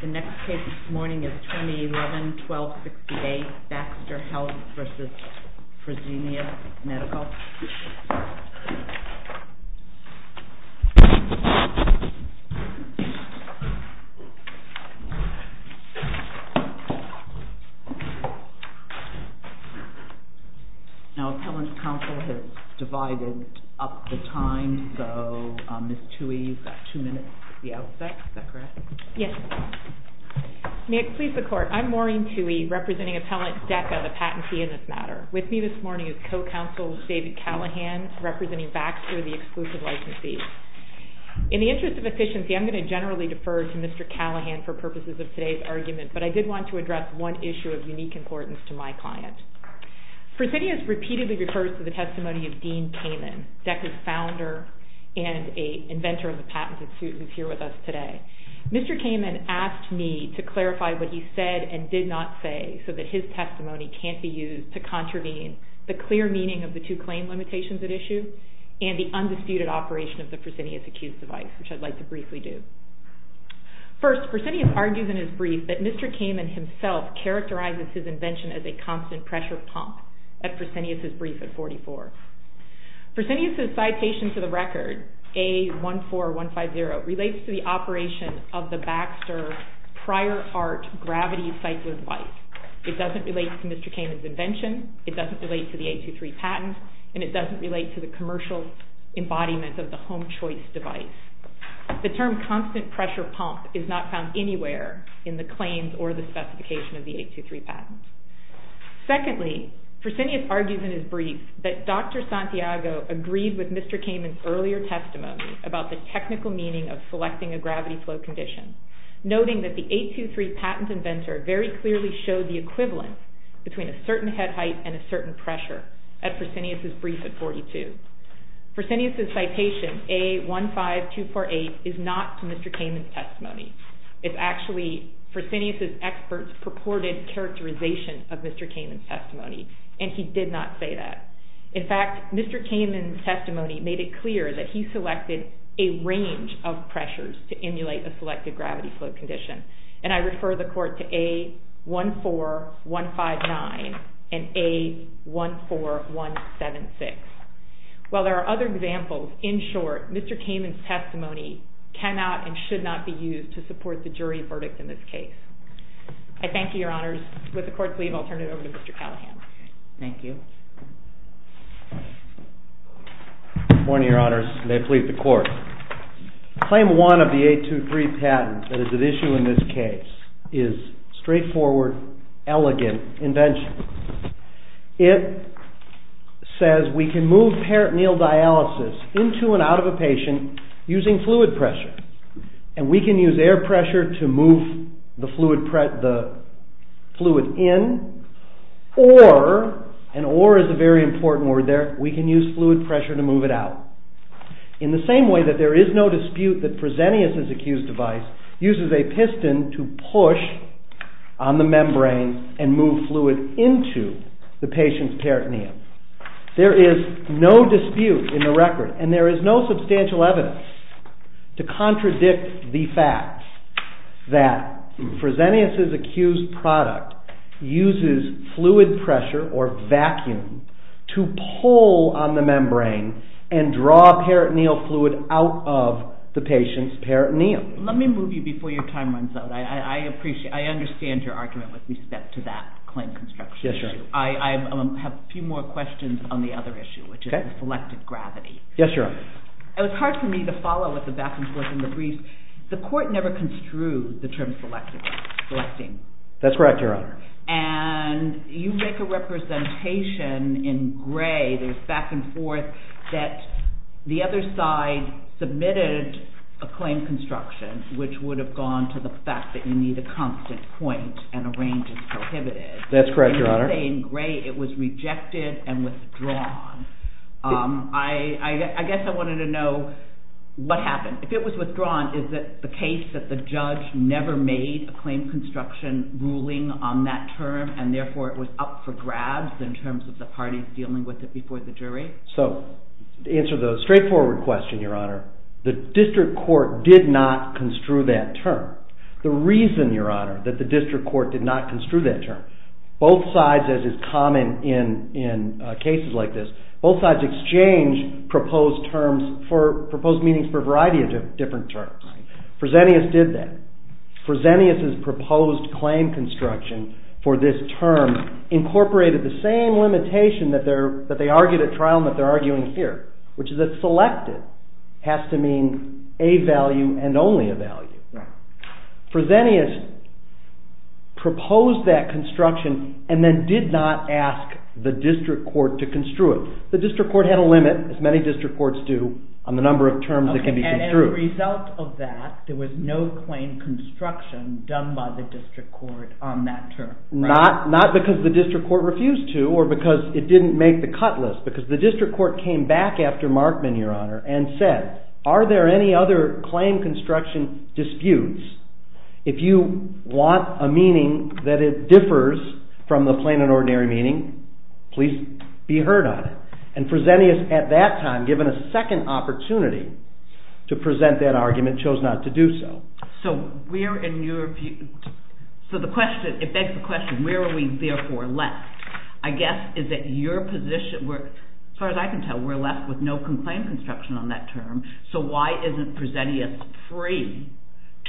The next case this morning is 2011-12-68, BAXTER HEALTH v. FRESENIUS MEDICAL. Now, Attendance Council has divided up the time, so Ms. Tuohy, you've got two minutes at the outset. Is that correct? Yes. May it please the Court, I'm Maureen Tuohy, representing appellant DECA, the patentee in this matter. With me this morning is co-counsel David Callahan, representing BAXTER, the exclusive licensee. In the interest of efficiency, I'm going to generally defer to Mr. Callahan for purposes of today's argument. But I did want to address one issue of unique importance to my client. Fresenius repeatedly refers to the testimony of Dean Kamen, DECA's founder and inventor of the patented suit, who's here with us today. Mr. Kamen asked me to clarify what he said and did not say so that his testimony can't be used to contravene the clear meaning of the two claim limitations at issue and the undisputed operation of the Fresenius-accused device, which I'd like to briefly do. First, Fresenius argues in his brief that Mr. Kamen himself characterizes his invention as a constant pressure pump at Fresenius's brief at 44. Fresenius's citation to the record, A14150, relates to the operation of the Baxter prior art gravity cycler device. It doesn't relate to Mr. Kamen's invention. It doesn't relate to the 823 patent. And it doesn't relate to the commercial embodiment of the home choice device. The term constant pressure pump is not found anywhere in the claims or the specification of the 823 patent. Secondly, Fresenius argues in his brief that Dr. Santiago agreed with Mr. Kamen's earlier testimony about the technical meaning of selecting a gravity flow condition, noting that the 823 patent inventor very clearly showed the equivalent between a certain head height and a certain pressure at Fresenius's brief at 42. Fresenius's citation, A15248, is not to Mr. Kamen's testimony. It's actually Fresenius's expert's purported characterization of Mr. Kamen's testimony. And he did not say that. In fact, Mr. Kamen's testimony made it clear that he selected a range of pressures to emulate a selected gravity flow condition. And I refer the court to A14159 and A14176. While there are other examples, in short, Mr. Kamen's testimony cannot and should not be used to support the jury verdict in this case. I thank you, your honors. With the court's leave, I'll turn it over to Mr. Callahan. Thank you. Good morning, your honors. May it please the court. Claim one of the 823 patent that is at issue in this case is straightforward, elegant invention. It says we can move peritoneal dialysis into and out of a patient using fluid pressure. And we can use air pressure to move the fluid in or an order is a very important word there. We can use fluid pressure to move it out. In the same way that there is no dispute that Fresenius' accused device uses a piston to push on the membrane and move fluid into the patient's peritoneum. There is no dispute in the record. And there is no substantial evidence to contradict the fact that Fresenius' accused product uses fluid pressure, or vacuum, to pull on the membrane and draw peritoneal fluid out of the patient's peritoneum. Let me move you before your time runs out. I understand your argument with respect to that claim construction issue. I have a few more questions on the other issue, which is the selective gravity. Yes, your honor. It was hard for me to follow what the back and forth in the brief. The court never construed the term selective gravity. That's correct, your honor. And you make a representation in Gray, there's back and forth, that the other side submitted a claim construction, which would have gone to the fact that you need a constant point and a range is prohibited. That's correct, your honor. In Gray, it was rejected and withdrawn. I guess I wanted to know what happened. If it was withdrawn, is it the case that the judge never made a claim construction ruling on that term, and therefore it was up for grabs in terms of the parties dealing with it before the jury? So to answer the straightforward question, your honor, the district court did not construe that term. The reason, your honor, that the district court did not construe that term, both sides, as is common in cases like this, both sides exchange proposed terms for proposed meanings for a variety of different terms. Fresenius did that. Fresenius's proposed claim construction for this term incorporated the same limitation that they argued at trial and that they're arguing here, which is that selected has to mean a value and only a value. Fresenius proposed that construction and then did not ask the district court to construe it. The district court had a limit, as many district courts do, on the number of terms that can be construed. And as a result of that, there was no claim construction done by the district court on that term, right? Not because the district court refused to or because it didn't make the cut list. Because the district court came back after Markman, your honor, and said, are there any other claim construction disputes? If you want a meaning that differs from the plain and ordinary meaning, please be heard on it. And Fresenius, at that time, given a second opportunity to present that argument, chose not to do so. So it begs the question, where are we therefore left? I guess is that your position, as far as I can tell, we're left with no claim construction on that term. So why isn't Fresenius free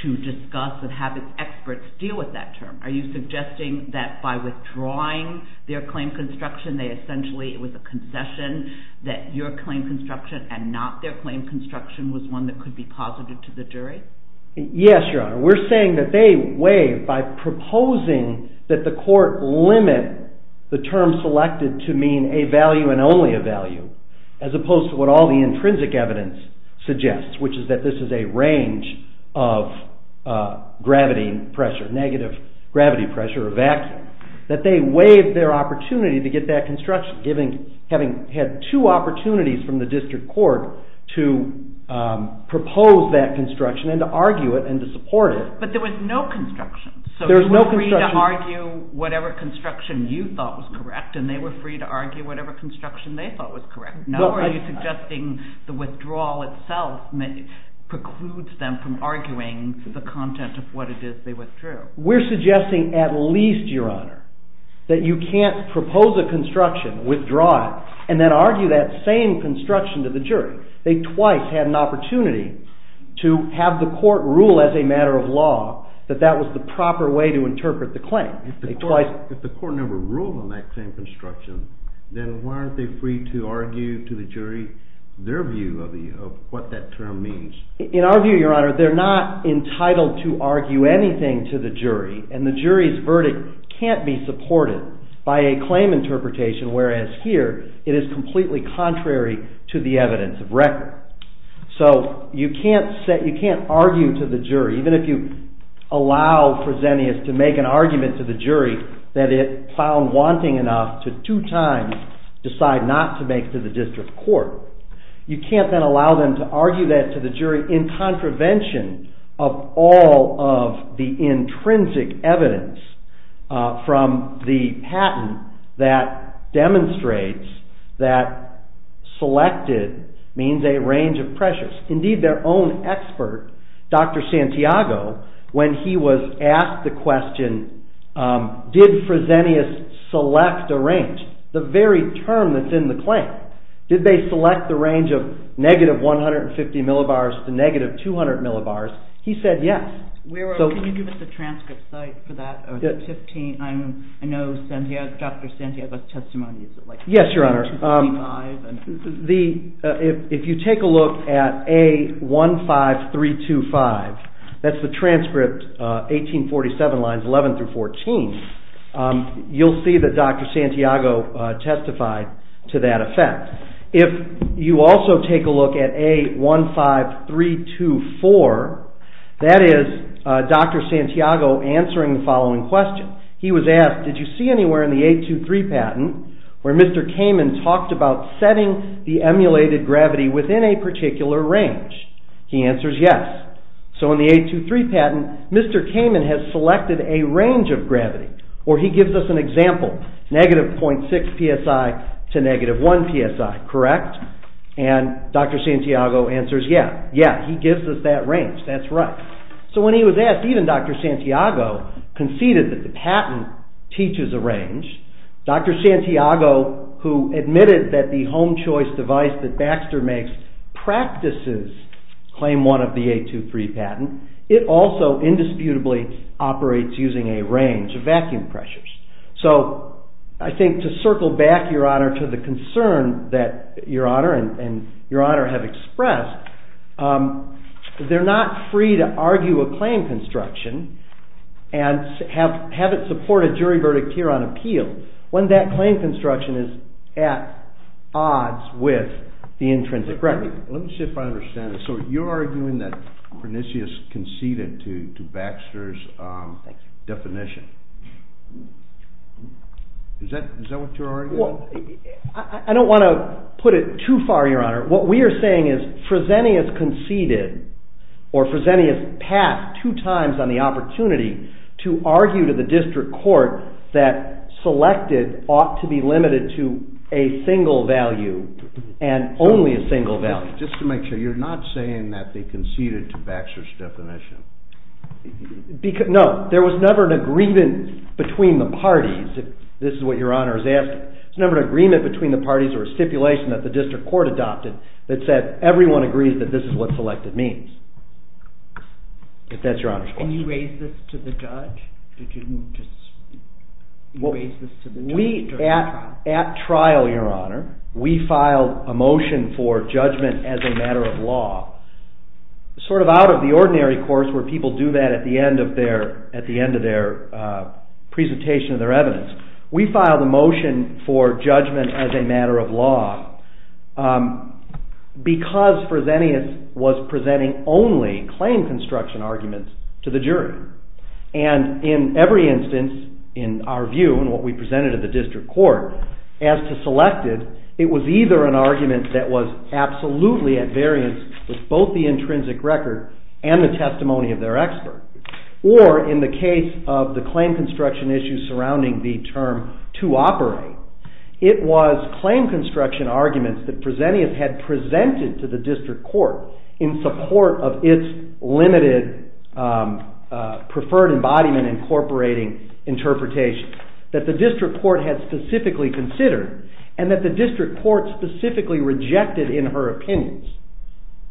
to discuss and have experts deal with that term? Are you suggesting that by withdrawing their claim construction, they essentially, it was a concession, that your claim construction and not their claim construction was one that could be posited to the jury? Yes, your honor. We're saying that they waived by proposing that the court limit the term selected to mean a value and only a value, as opposed to what all the intrinsic evidence suggests, which is that this is a range of gravity and pressure, negative gravity pressure or vacuum. That they waived their opportunity to get that construction, having had two opportunities from the district court to propose that construction and to argue it and to support it. But there was no construction. There was no construction. So you were free to argue whatever construction you thought was correct. And they were free to argue whatever construction they thought was correct. No, are you suggesting the withdrawal itself precludes them from arguing the content of what it is they withdrew? We're suggesting at least, your honor, that you can't propose a construction, withdraw it, and then argue that same construction to the jury. They twice had an opportunity to have the court rule as a matter of law that that was the proper way to interpret the claim. If the court never ruled on that same construction, then why aren't they free to argue to the jury their view of what that term means? In our view, your honor, they're not And the jury's verdict can't be supported by a claim interpretation, whereas here, it is completely contrary to the evidence of record. So you can't argue to the jury, even if you allow Fresenius to make an argument to the jury that it found wanting enough to two times decide not to make to the district court. You can't then allow them to argue that to the jury in contravention of all of the intrinsic evidence from the patent that demonstrates that selected means a range of pressures. Indeed, their own expert, Dr. Santiago, when he was asked the question, did Fresenius select a range, the very term that's in the claim, did they select the range of negative 150 millibars to negative 200 millibars? He said yes. Wero, can you give us the transcript site for that? I know Dr. Santiago's testimony is like 155. Yes, your honor. If you take a look at A15325, that's the transcript 1847 lines 11 through 14, you'll see that Dr. Santiago testified to that effect. If you also take a look at A15324, that is Dr. Santiago answering the following question. He was asked, did you see anywhere in the 823 patent where Mr. Kamen talked about setting the emulated gravity within a particular range? He answers yes. So in the 823 patent, Mr. Kamen has a range of gravity, or he gives us an example. Negative 0.6 psi to negative 1 psi, correct? And Dr. Santiago answers yes. Yes, he gives us that range. That's right. So when he was asked, even Dr. Santiago conceded that the patent teaches a range. Dr. Santiago, who admitted that the home choice device that Baxter makes practices claim one of the 823 patent, it also indisputably operates using a range of vacuum pressures. So I think to circle back, Your Honor, to the concern that Your Honor and Your Honor have expressed, they're not free to argue a claim construction and have it support a jury verdict here on appeal when that claim construction is at odds with the intrinsic record. Let me see if I understand this. So you're arguing that Prenisius conceded to Baxter's definition. Is that what you're arguing? I don't want to put it too far, Your Honor. What we are saying is Fresenius conceded, or Fresenius passed two times on the opportunity to argue to the district court that selected ought to be limited to a single value and only a single value. Just to make sure, you're not saying that they conceded to Baxter's definition. No, there was never an agreement between the parties, if this is what Your Honor is asking. There was never an agreement between the parties or a stipulation that the district court adopted that said everyone agrees that this is what selected means. If that's Your Honor's question. And you raised this to the judge? Did you just raise this to the judge during the trial? At trial, Your Honor, we filed a motion for judgment as a matter of law. Sort of out of the ordinary course where people do that at the end of their presentation of their evidence. We filed a motion for judgment as a matter of law because Fresenius was presenting only claim construction arguments to the jury. And in every instance, in our view and what we presented to the district court, as to selected, it was either an argument that was absolutely at variance with both the intrinsic record and the testimony of their expert. Or in the case of the claim construction issues surrounding the term to operate, it was claim construction arguments that Fresenius had presented to the district court in support of its limited preferred embodiment incorporating interpretation that the district court had specifically considered and that the district court specifically rejected in her opinions.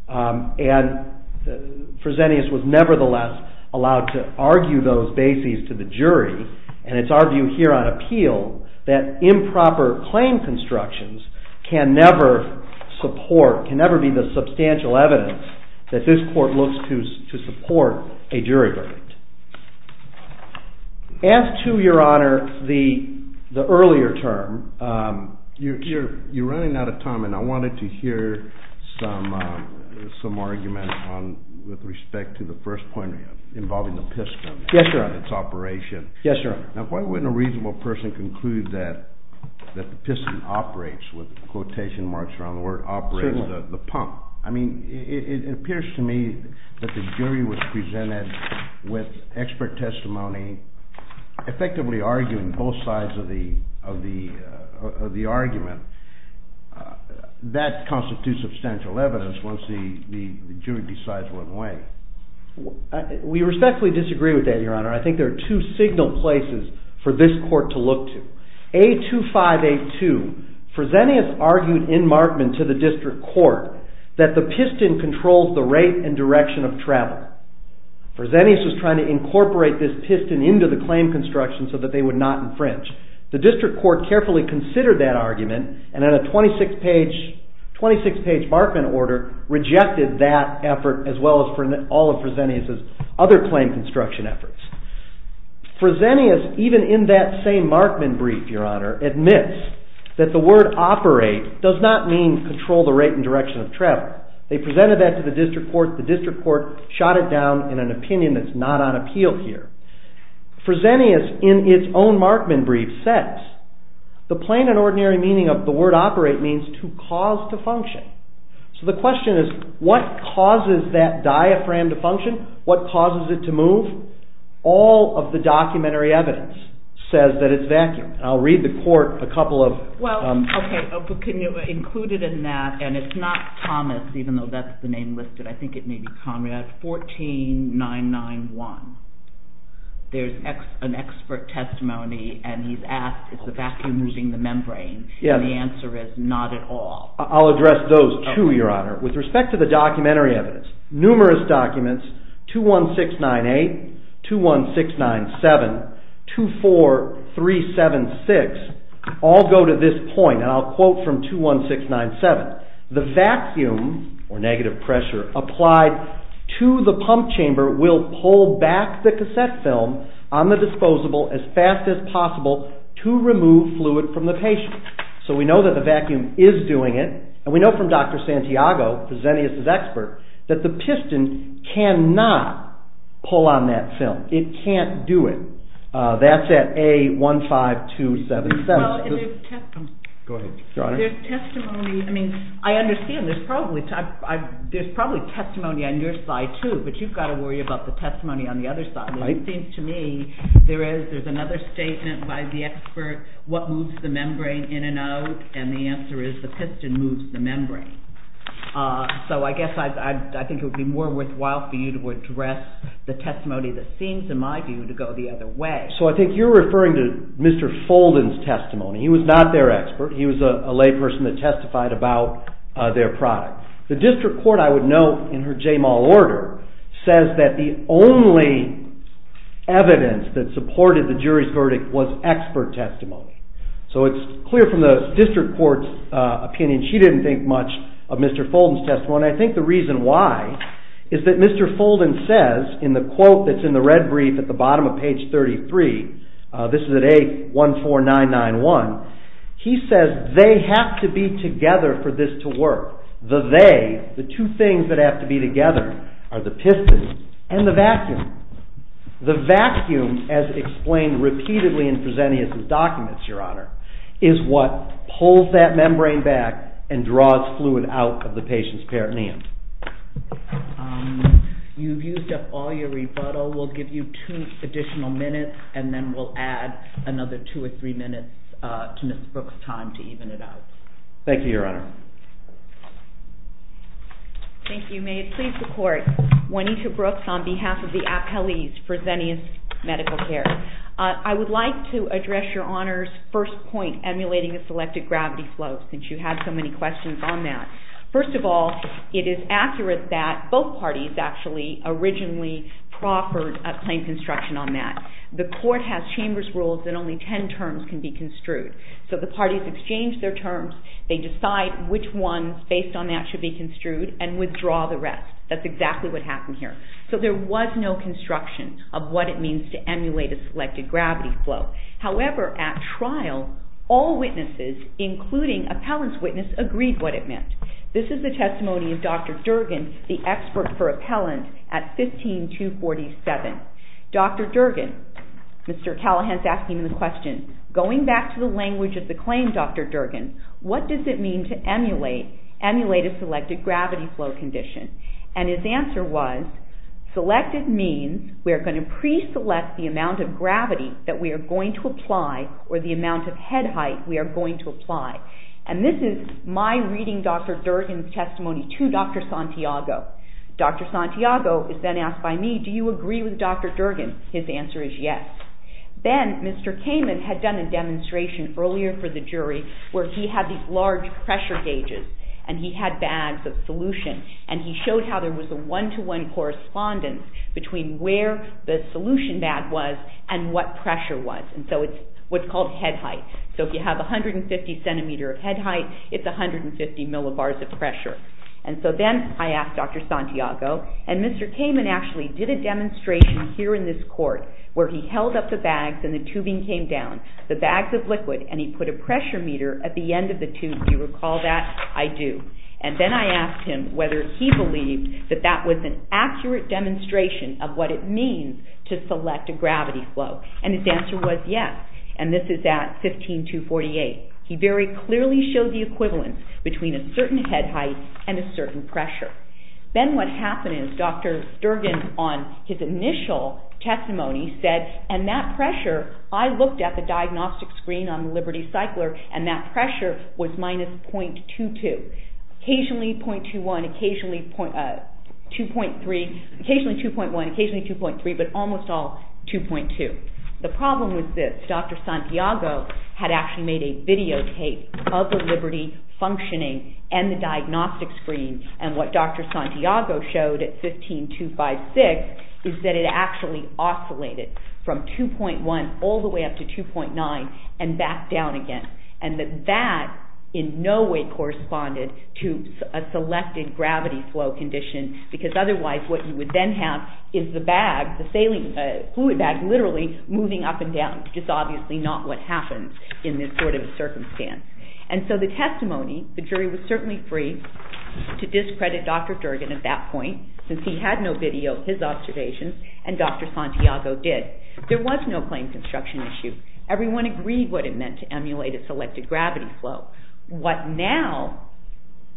And Fresenius was nevertheless allowed to argue those bases to the jury. And it's our view here on appeal that improper claim constructions can never be the substantial evidence that this court looks to support a jury verdict. As to, Your Honor, the earlier term. You're running out of time. And I wanted to hear some argument with respect to the first point involving the piston and its operation. Yes, Your Honor. Why wouldn't a reasonable person conclude that the piston operates with quotation marks around the word, operates the pump? I mean, it appears to me that the jury was presented with expert testimony, effectively arguing both sides of the argument. That constitutes substantial evidence once the jury decides what way. We respectfully disagree with that, Your Honor. I think there are two signal places for this court to look to. A2582, Fresenius argued in Markman to the district court that the piston controls the rate and direction of travel. Fresenius was trying to incorporate this piston into the claim construction so that they would not infringe. The district court carefully considered that argument and, in a 26-page Markman order, rejected that effort, as well as all of Fresenius's other claim construction efforts. Fresenius, even in that same Markman brief, Your Honor, admits that the word, operate, does not mean control the rate and direction of travel. They presented that to the district court. The district court shot it down in an opinion that's not on appeal here. Fresenius, in its own Markman brief, says the plain and ordinary meaning of the word, operate, means to cause to function. So the question is, what causes that diaphragm to function? What causes it to move? All of the documentary evidence says that it's vacuum. I'll read the court a couple of- Well, OK, but can you include it in that? And it's not Thomas, even though that's the name listed. I think it may be Conrad. 14991, there's an expert testimony, and he's asked, is the vacuum losing the membrane? And the answer is, not at all. I'll address those, too, Your Honor. With respect to the documentary evidence, numerous documents, 21698, 21697, 24376, all go to this point. And I'll quote from 21697. The vacuum, or negative pressure, applied to the pump chamber will pull back the cassette film on the disposable as fast as possible to remove fluid from the patient. So we know that the vacuum is doing it. And we know from Dr. Santiago, Fresenius' expert, that the piston cannot pull on that film. It can't do it. That's at A15277. Go ahead, Your Honor. There's testimony. I mean, I understand there's probably testimony on your side, too, but you've got to worry about the testimony on the other side. It seems to me, there's another statement by the expert, what moves the membrane in and out? And the answer is, the piston moves the membrane. So I guess I think it would be more worthwhile for you to address the testimony that seems, in my view, to go the other way. So I think you're referring to Mr. Folden's testimony. He was not their expert. He was a layperson that testified about their product. The district court, I would note, in her J-Mall order, says that the only evidence that supported the jury's verdict was expert testimony. So it's clear from the district court's opinion she didn't think much of Mr. Folden's testimony. I think the reason why is that Mr. Folden says, in the quote that's in the red brief at the bottom of page 33, this is at A14991. He says, they have to be together for this to work. The they, the two things that have to be together, are the piston and the vacuum. The vacuum, as explained repeatedly in Presenius's documents, Your Honor, is what pulls that membrane back and draws fluid out of the patient's peritoneum. You've used up all your rebuttal. We'll give you two additional minutes, and then we'll add another two or three minutes to Mr. Brooks' time to even it out. Thank you, Your Honor. Thank you. May it please the court, Juanita Brooks on behalf of the appellees for Presenius Medical Care. I would like to address Your Honor's first point, emulating a selected gravity flow, since you had so many questions on that. First of all, it is accurate that both parties actually originally proffered a plain construction on that. The court has chamber's rules that only 10 terms can be construed. So the parties exchange their terms. They decide which ones, based on that, should be construed and withdraw the rest. That's exactly what happened here. So there was no construction of what it means to emulate a selected gravity flow. However, at trial, all witnesses, including appellant's witness, agreed what it meant. This is the testimony of Dr. Durgan, the expert for appellant at 15247. Dr. Durgan, Mr. Callahan's asking the question, going back to the language of the claim, Dr. Durgan, what does it mean to emulate a selected gravity flow condition? And his answer was, selected means we are going to pre-select the amount of gravity that we are going to apply, or the amount of head height we are going to apply. And this is my reading Dr. Durgan's testimony to Dr. Santiago. Dr. Santiago is then asked by me, do you agree with Dr. Durgan? His answer is yes. Then Mr. Kamen had done a demonstration earlier for the jury where he had these large pressure gauges, and he had bags of solution. And he showed how there was a one-to-one correspondence between where the solution bag was and what pressure was. And so it's what's called head height. So if you have 150 centimeter of head height, it's 150 millibars of pressure. And so then I asked Dr. Santiago, and Mr. Kamen actually did a demonstration here in this court where he held up the bags and the tubing came down, the bags of liquid, and he put a pressure meter at the end of the tube. Do you recall that? I do. And then I asked him whether he believed that that was an accurate demonstration of what it means to select a gravity flow. And his answer was yes. And this is at 15248. He very clearly showed the equivalence between a certain head height and a certain pressure. Then what happened is Dr. Sturgeon on his initial testimony said, and that pressure, I looked at the diagnostic screen on the Liberty Cycler, and that pressure was minus 0.22. Occasionally 0.21, occasionally 2.3, occasionally 2.1, occasionally 2.3, but almost all 2.2. The problem was this. Dr. Santiago had actually made a videotape of the Liberty functioning and the diagnostic screen and what Dr. Santiago showed at 15256 is that it actually oscillated from 2.1 all the way up to 2.9 and back down again. And that that in no way corresponded to a selected gravity flow condition because otherwise what you would then have is the bag, the saline fluid bag, literally moving up and down, which is obviously not what happens in this sort of circumstance. And so the testimony, the jury was certainly free to discredit Dr. Durgan at that point since he had no video of his observations and Dr. Santiago did. There was no claim construction issue. Everyone agreed what it meant to emulate a selected gravity flow. What now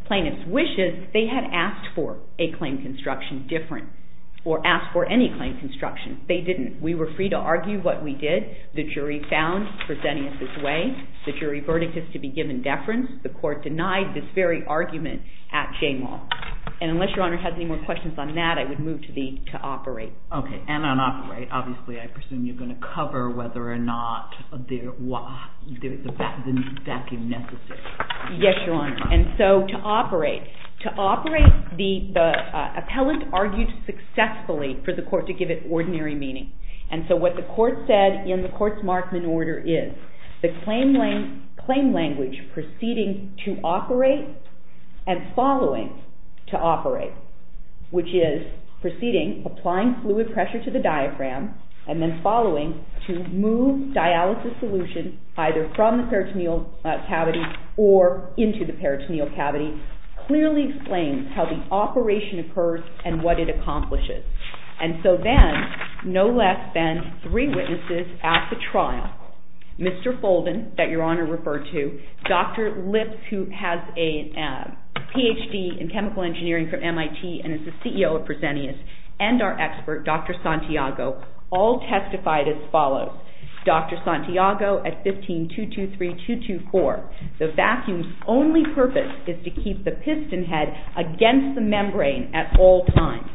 plaintiffs wishes, they had asked for a claim construction different or asked for any claim construction. They didn't. We were free to argue what we did. The jury found Fresenius's way. The jury verdict is to be given deference. The court denied this very argument at Jane Wall. And unless your honor has any more questions on that, I would move to the to operate. Okay, and on operate, obviously I presume you're going to cover whether or not the vacuum necessary. Yes, your honor. And so to operate, to operate the appellate argued successfully for the court to give it ordinary meaning. And so what the court said in the court's Markman order is the claim language proceeding to operate and following to operate, which is proceeding applying fluid pressure to the diaphragm and then following to move dialysis solution either from the peritoneal cavity or into the peritoneal cavity, clearly explains how the operation occurs and what it accomplishes. And so then no less than three witnesses at the trial, Mr. Folden that your honor referred to, Dr. Lips who has a PhD in chemical engineering from MIT and is the CEO of Fresenius and our expert, Dr. Santiago all testified as follows. Dr. Santiago at 15, 223, 224. The vacuum's only purpose is to keep the piston head against the membrane at all times.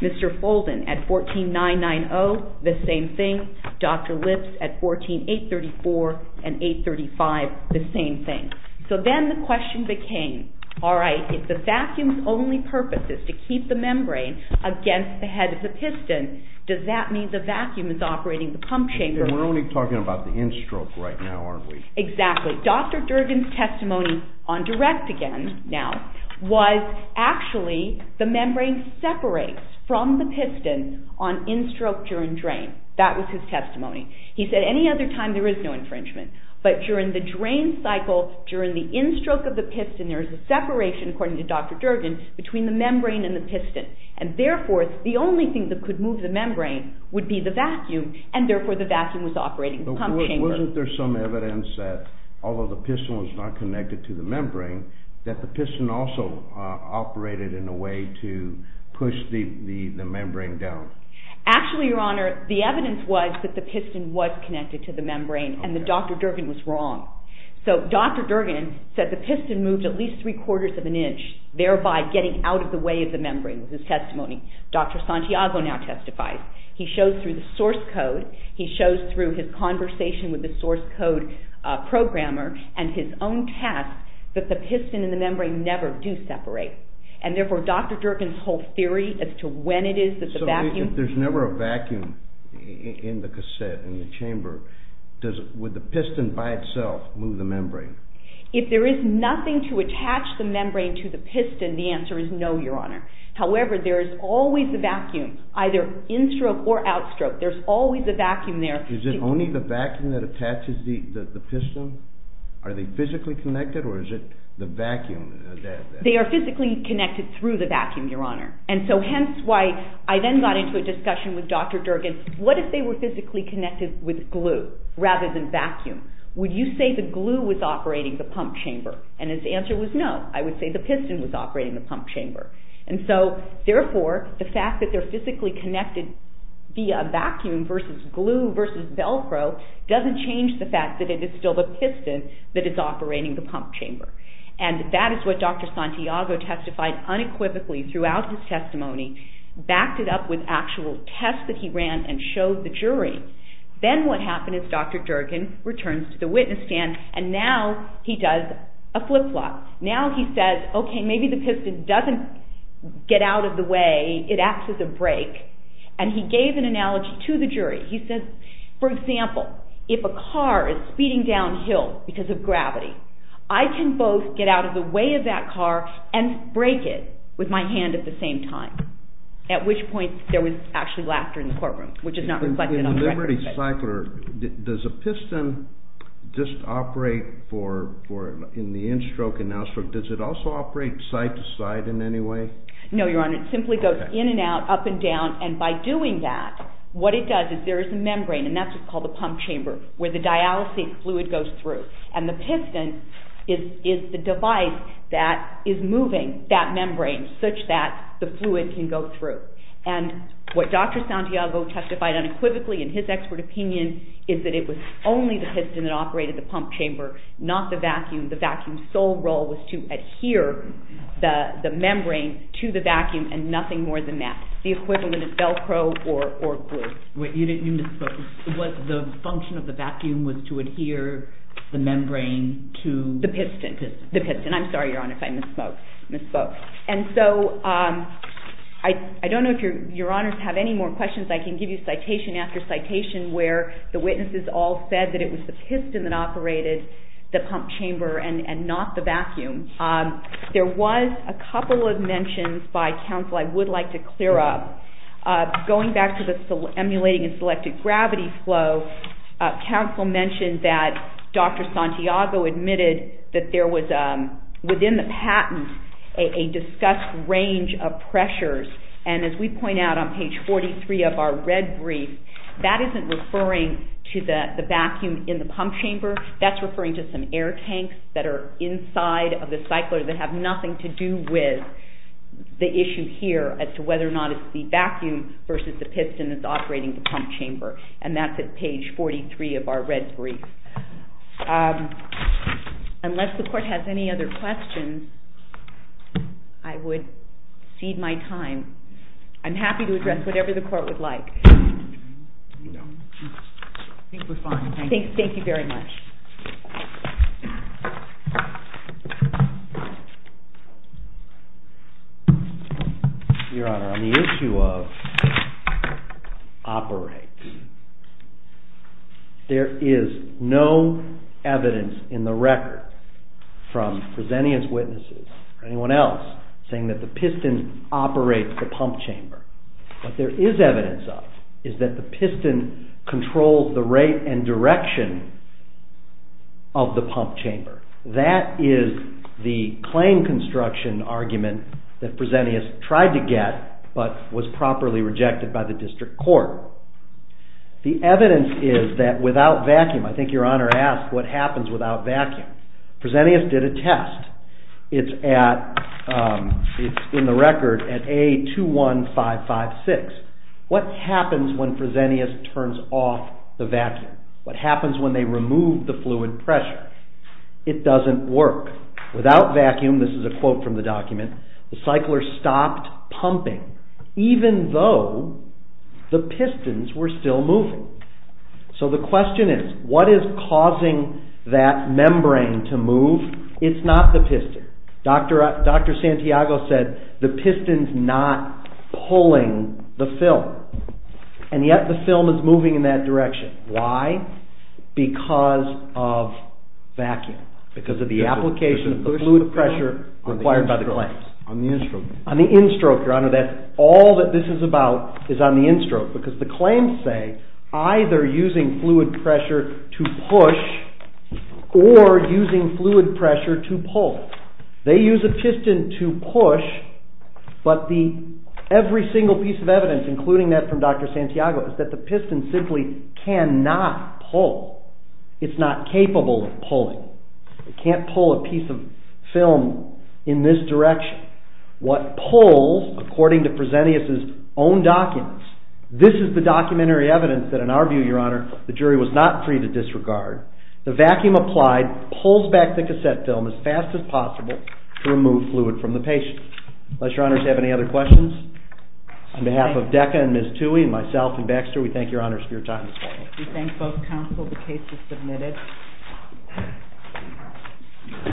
Mr. Folden at 14, 990, the same thing. Dr. Lips at 14, 834 and 835, the same thing. So then the question became, all right, if the vacuum's only purpose is to keep the membrane against the head of the piston, does that mean the vacuum is operating the pump chamber? We're only talking about the end stroke right now, aren't we? Exactly, Dr. Durden's testimony on direct again now was actually the membrane separates from the piston on end stroke during drain. That was his testimony. He said any other time there is no infringement, but during the drain cycle, during the end stroke of the piston, there's a separation according to Dr. Durden between the membrane and the piston. And therefore the only thing that could move the membrane would be the vacuum and therefore the vacuum was operating the pump chamber. Wasn't there some evidence that although the piston was not connected to the membrane, that the piston also operated in a way to push the membrane down? Actually, your honor, the evidence was that the piston was connected to the membrane and that Dr. Durden was wrong. So Dr. Durden said the piston moved at least three quarters of an inch, thereby getting out of the way of the membrane was his testimony. Dr. Santiago now testifies. He shows through the source code, he shows through his conversation with the source code programmer and his own task that the piston and the membrane never do separate. And therefore Dr. Durden's whole theory as to when it is that the vacuum- So if there's never a vacuum in the cassette, in the chamber, would the piston by itself move the membrane? If there is nothing to attach the membrane to the piston, the answer is no, your honor. However, there is always a vacuum, either in-stroke or out-stroke. There's always a vacuum there. Is it only the vacuum that attaches the piston? Are they physically connected or is it the vacuum? They are physically connected through the vacuum, your honor. Hence why I then got into a discussion with Dr. Durden. What if they were physically connected with glue rather than vacuum? Would you say the glue was operating the pump chamber? And his answer was no. I would say the piston was operating the pump chamber. And so therefore, the fact that they're physically connected via vacuum versus glue versus Velcro doesn't change the fact that it is still the piston that is operating the pump chamber. And that is what Dr. Santiago testified unequivocally throughout his testimony, backed it up with actual tests that he ran and showed the jury. Then what happened is Dr. Durden returns to the witness stand and now he does a flip-flop. Now he says, okay, maybe the piston doesn't get out of the way. It acts as a brake. And he gave an analogy to the jury. He says, for example, if a car is speeding downhill because of gravity, I can both get out of the way of that car and brake it with my hand at the same time. At which point there was actually laughter in the courtroom, which is not reflected on the record. In the Liberty Cycler, does a piston just operate in the in-stroke and out-stroke? Does it also operate side to side in any way? No, Your Honor. It simply goes in and out, up and down. And by doing that, what it does is there is a membrane and that's what's called the pump chamber where the dialysate fluid goes through. And the piston is the device that is moving that membrane such that the fluid can go through. And what Dr. Santiago testified unequivocally in his expert opinion is that it was only the piston that operated the pump chamber, not the vacuum. The vacuum's sole role was to adhere the membrane to the vacuum and nothing more than that. The equivalent is Velcro or glue. Wait, you didn't, you misspoke. What the function of the vacuum was to adhere the membrane to the piston. The piston. I'm sorry, Your Honor, if I misspoke. And so I don't know if Your Honors have any more questions. I can give you citation after citation where the witnesses all said that it was the piston that operated the pump chamber and not the vacuum. There was a couple of mentions by counsel I would like to clear up. Going back to the emulating and selective gravity flow, counsel mentioned that Dr. Santiago admitted that there was within the patent a discussed range of pressures. And as we point out on page 43 of our red brief, that isn't referring to the vacuum in the pump chamber. That's referring to some air tanks that are inside of the cycler that have nothing to do with the issue here as to whether or not it's the vacuum versus the piston that's operating the pump chamber. And that's at page 43 of our red brief. Unless the court has any other questions, I would cede my time. I'm happy to address whatever the court would like. I think we're fine, thank you. Thank you very much. Your Honor, on the issue of operates, there is no evidence in the record from Presennian's witnesses or anyone else saying that the piston operates the pump chamber. The piston controls the rate and direction of the pump chamber. That is the claim construction argument that Presennius tried to get, but was properly rejected by the district court. The evidence is that without vacuum, I think Your Honor asked what happens without vacuum. Presennius did a test. It's in the record at A21556. What happens when Presennius turns off the vacuum? What happens when they remove the fluid pressure? It doesn't work. Without vacuum, this is a quote from the document, the cycler stopped pumping, even though the pistons were still moving. So the question is, what is causing that membrane to move? It's not the piston. Dr. Santiago said, the piston's not pulling the film, and yet the film is moving in that direction. Why? Because of vacuum, because of the application of the fluid pressure required by the claims. On the in-stroke. On the in-stroke, Your Honor, that's all that this is about is on the in-stroke, because the claims say, either using fluid pressure to push or using fluid pressure to pull. They use a piston to push, but every single piece of evidence, including that from Dr. Santiago, is that the piston simply cannot pull. It's not capable of pulling. It can't pull a piece of film in this direction. What pulls, according to Presennius' own documents, this is the documentary evidence that in our view, Your Honor, the jury was not free to disregard. The vacuum applied pulls back the cassette film as fast as possible to remove fluid from the patient. Unless Your Honors have any other questions, on behalf of DECA and Ms. Toohey, and myself and Baxter, we thank Your Honors for your time this morning. We thank both counsel. The case is submitted.